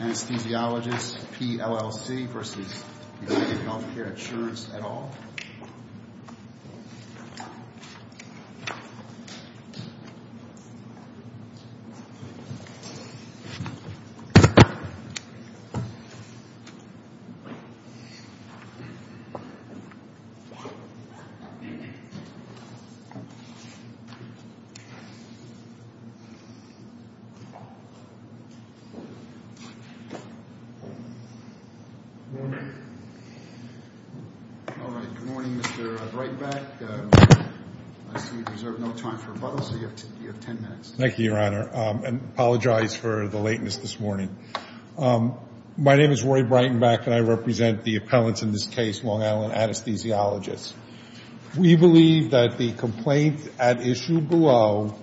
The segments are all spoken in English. Anesthesiologists PLLC v. United Healthcare Insurance et al. Good morning, Mr. Breitenbach, I see we have no time for rebuttals, so you have ten minutes. Thank you, Your Honor, and I apologize for the lateness this morning. My name is Roy Breitenbach and I represent the appellants in this case, Long Island Anesthesiologists. We believe that the complaint at issue below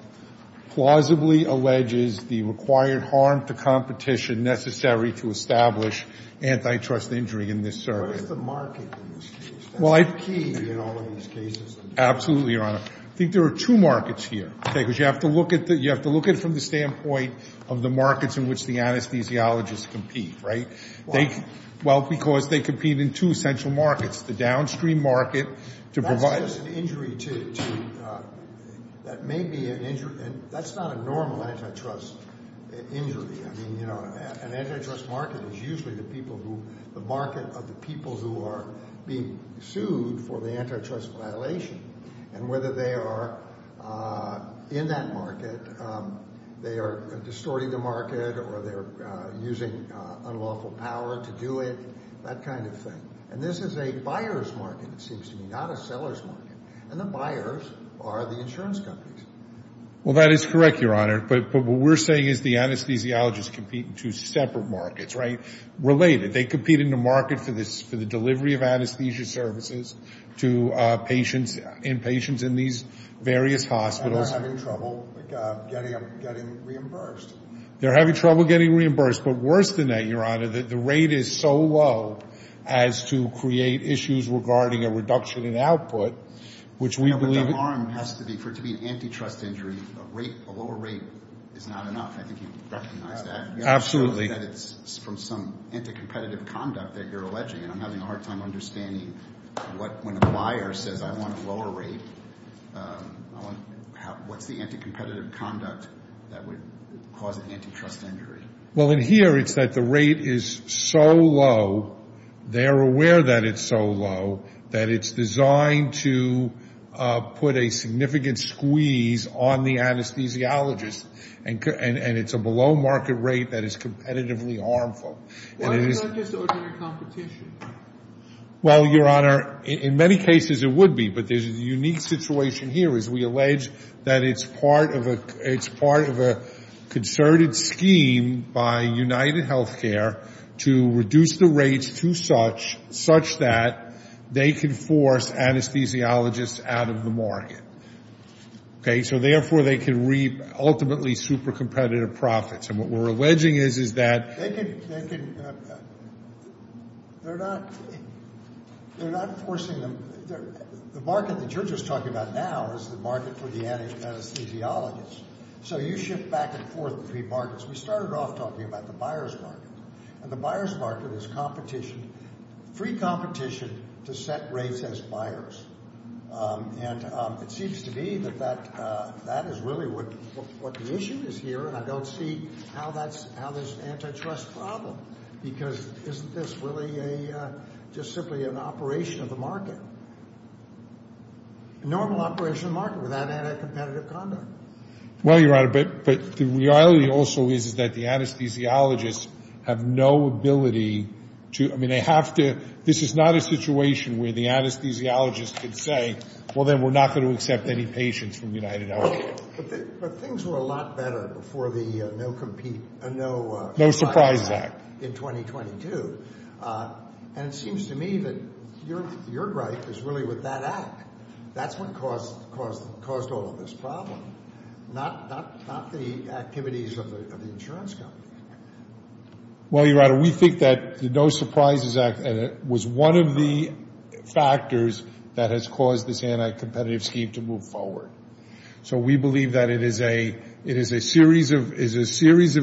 plausibly alleges the required harm to competition necessary to establish antitrust injury in this circuit. What is the market in this case? That's the key in all of these cases. Absolutely, Your Honor. I think there are two markets here, okay, because you have to look at it from the standpoint of the markets in which the anesthesiologists compete, right? Why? Well, because they compete in two central markets, the downstream market to provide That's just an injury to, that may be an injury, that's not a normal antitrust injury, I mean, you know, an antitrust market is usually the people who, the market of the people who are being sued for the antitrust violation and whether they are in that market, they are distorting the market or they're using unlawful power to do it, that kind of thing. And this is a buyer's market, it seems to me, not a seller's market. And the buyers are the insurance companies. Well, that is correct, Your Honor. But what we're saying is the anesthesiologists compete in two separate markets, right? Related, they compete in the market for the delivery of anesthesia services to patients, inpatients in these various hospitals. And they're having trouble getting reimbursed. They're having trouble getting reimbursed. But worse than that, Your Honor, the rate is so low as to create issues regarding a reduction in output, which we believe The harm has to be, for it to be an antitrust injury, a lower rate is not enough. I think you recognize that. Absolutely. It's from some anti-competitive conduct that you're alleging. And I'm having a hard time understanding what, when a buyer says, I want a lower rate, what's the anti-competitive conduct that would cause an antitrust injury? Well, in here, it's that the rate is so low, they're aware that it's so low, that it's put a significant squeeze on the anesthesiologist. And it's a below-market rate that is competitively harmful. Why do you not just open your competition? Well, Your Honor, in many cases it would be. But there's a unique situation here, as we allege, that it's part of a concerted scheme by UnitedHealthcare to reduce the rates to such, such that they can force anesthesiologists out of the market. Okay? So therefore, they can reap ultimately super-competitive profits. And what we're alleging is, is that They can, they can, they're not, they're not forcing them, the market that you're just talking about now is the market for the anesthesiologists. So you shift back and forth between markets. We started off talking about the buyer's market. And the buyer's market is competition, free competition to set rates as buyers. And it seems to be that that, that is really what, what the issue is here. And I don't see how that's, how there's antitrust problem. Because isn't this really a, just simply an operation of the market? Normal operation of the market without any competitive conduct. Well, Your Honor, but the reality also is that the anesthesiologists have no ability to, I mean, they have to, this is not a situation where the anesthesiologists can say, well, then we're not going to accept any patients from UnitedHealthcare. But things were a lot better before the No Compete, No Surprise Act in 2022. And it seems to me that your gripe is really with that act. That's what caused all of this problem. Not the activities of the insurance company. Well, Your Honor, we think that the No Surprise Act was one of the factors that has caused this anti-competitive scheme to move forward. So we believe that it is a series of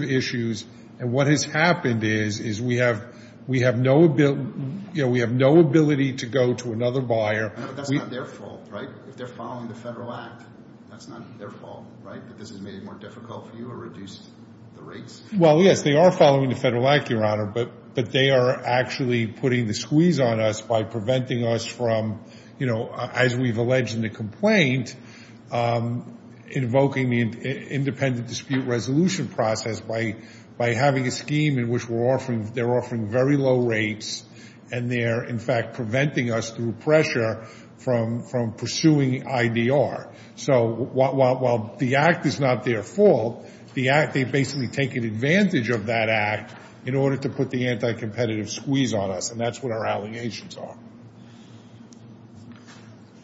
issues. And what has happened is we have no ability to go to another buyer. But that's not their fault, right? If they're following the federal act, that's not their fault, right? That this has made it more difficult for you or reduced the rates? Well, yes, they are following the federal act, Your Honor. But they are actually putting the squeeze on us by preventing us from, you know, as we've alleged in the complaint, invoking the independent dispute resolution process by having a scheme in which they're offering very low rates and they're, in fact, preventing us through pressure from pursuing IDR. So while the act is not their fault, the act they've basically taken advantage of that act in order to put the anti-competitive squeeze on us. And that's what our allegations are.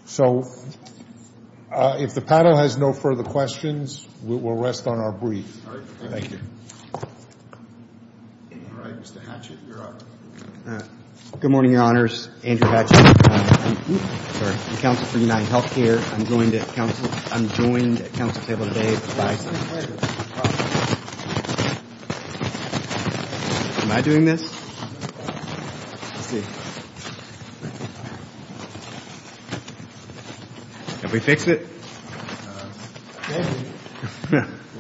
So if the panel has no further questions, we'll rest on our brief. Thank you. All right, Mr. Hatchett, you're up. Good morning, Your Honors. Andrew Hatchett. I'm counsel for UnitedHealthcare. I'm joined at counsel's table today by my son. Am I doing this? Let's see. Did we fix it?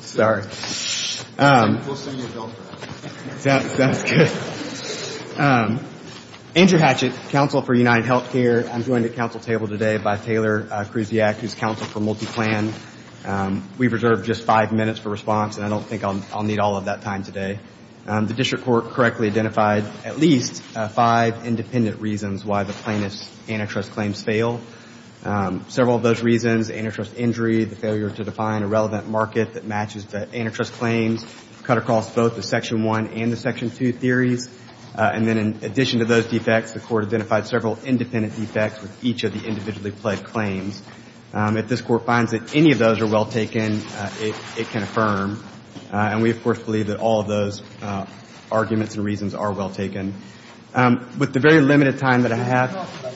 Sorry. Sounds good. Andrew Hatchett, counsel for UnitedHealthcare. I'm joined at counsel's table today by Taylor Kruziak, who's counsel for MultiPlan. We've reserved just five minutes for response, and I don't think I'll need all of that time today. The district court correctly identified at least five independent reasons why the plaintiff's antitrust claims fail. Several of those reasons, antitrust injury, the failure to define a relevant market that matches the antitrust claims, cut across both the Section 1 and the Section 2 theories. And then in addition to those defects, the court identified several independent defects with each of the individually pledged claims. If this court finds that any of those are well taken, it can affirm. And we, of course, believe that all of those arguments and reasons are well taken. With the very limited time that I have.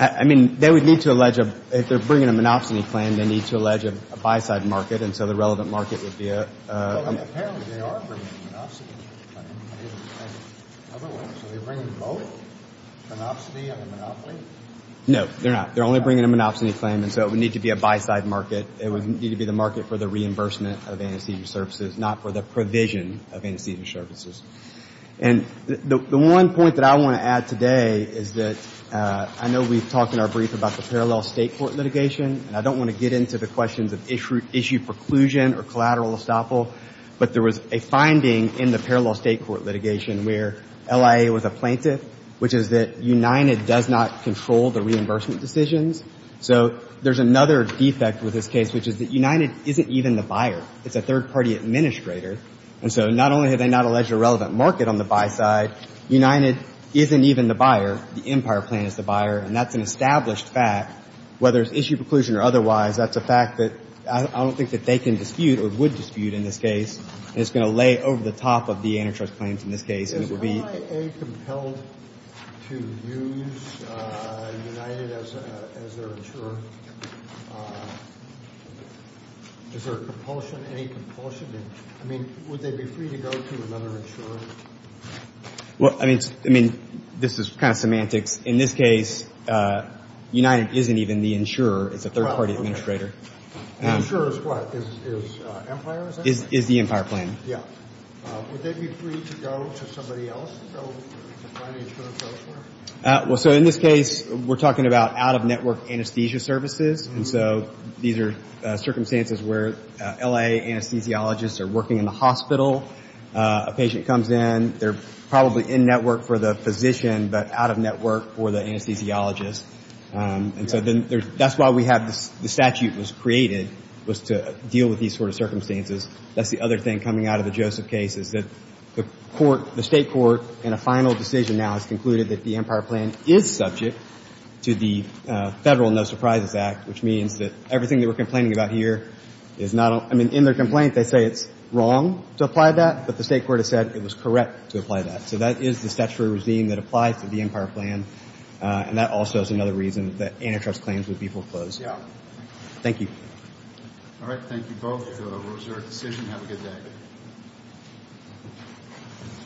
I mean, they would need to allege if they're bringing a monopsony claim, they need to allege a buy-side market, and so the relevant market would be a. Monopsony of a monopoly? No, they're not. They're only bringing a monopsony claim, and so it would need to be a buy-side market. It would need to be the market for the reimbursement of anesthesia services, not for the provision of anesthesia services. And the one point that I want to add today is that I know we've talked in our brief about the parallel State court litigation, and I don't want to get into the questions of issue preclusion or collateral estoppel, but there was a finding in the parallel State court litigation where LIA was a plaintiff, which is that United does not control the reimbursement decisions. So there's another defect with this case, which is that United isn't even the buyer. It's a third-party administrator, and so not only have they not alleged a relevant market on the buy-side, United isn't even the buyer. The Empire Plan is the buyer, and that's an established fact. Whether it's issue preclusion or otherwise, that's a fact that I don't think that they can dispute or would dispute in this case, and it's going to lay over the top of the antitrust claims in this case. Is LIA compelled to use United as their insurer? Is there a compulsion, any compulsion? I mean, would they be free to go to another insurer? Well, I mean, this is kind of semantics. In this case, United isn't even the insurer. It's a third-party administrator. The insurer is what? Is Empire, is that it? Is the Empire Plan. Yeah. Would they be free to go to somebody else? Go to a financial insurer? Well, so in this case, we're talking about out-of-network anesthesia services, and so these are circumstances where LIA anesthesiologists are working in the hospital. A patient comes in. They're probably in-network for the physician but out-of-network for the anesthesiologist. And so that's why we have the statute was created, was to deal with these sort of circumstances. That's the other thing coming out of the Joseph case is that the court, the state court, in a final decision now has concluded that the Empire Plan is subject to the Federal No Surprises Act, which means that everything they were complaining about here is not a – I mean, in their complaint, they say it's wrong to apply that, but the state court has said it was correct to apply that. So that is the statutory regime that applies to the Empire Plan, and that also is another reason that antitrust claims would be foreclosed. Yeah. Thank you. All right. Thank you both. It was a reserved decision. Have a good day.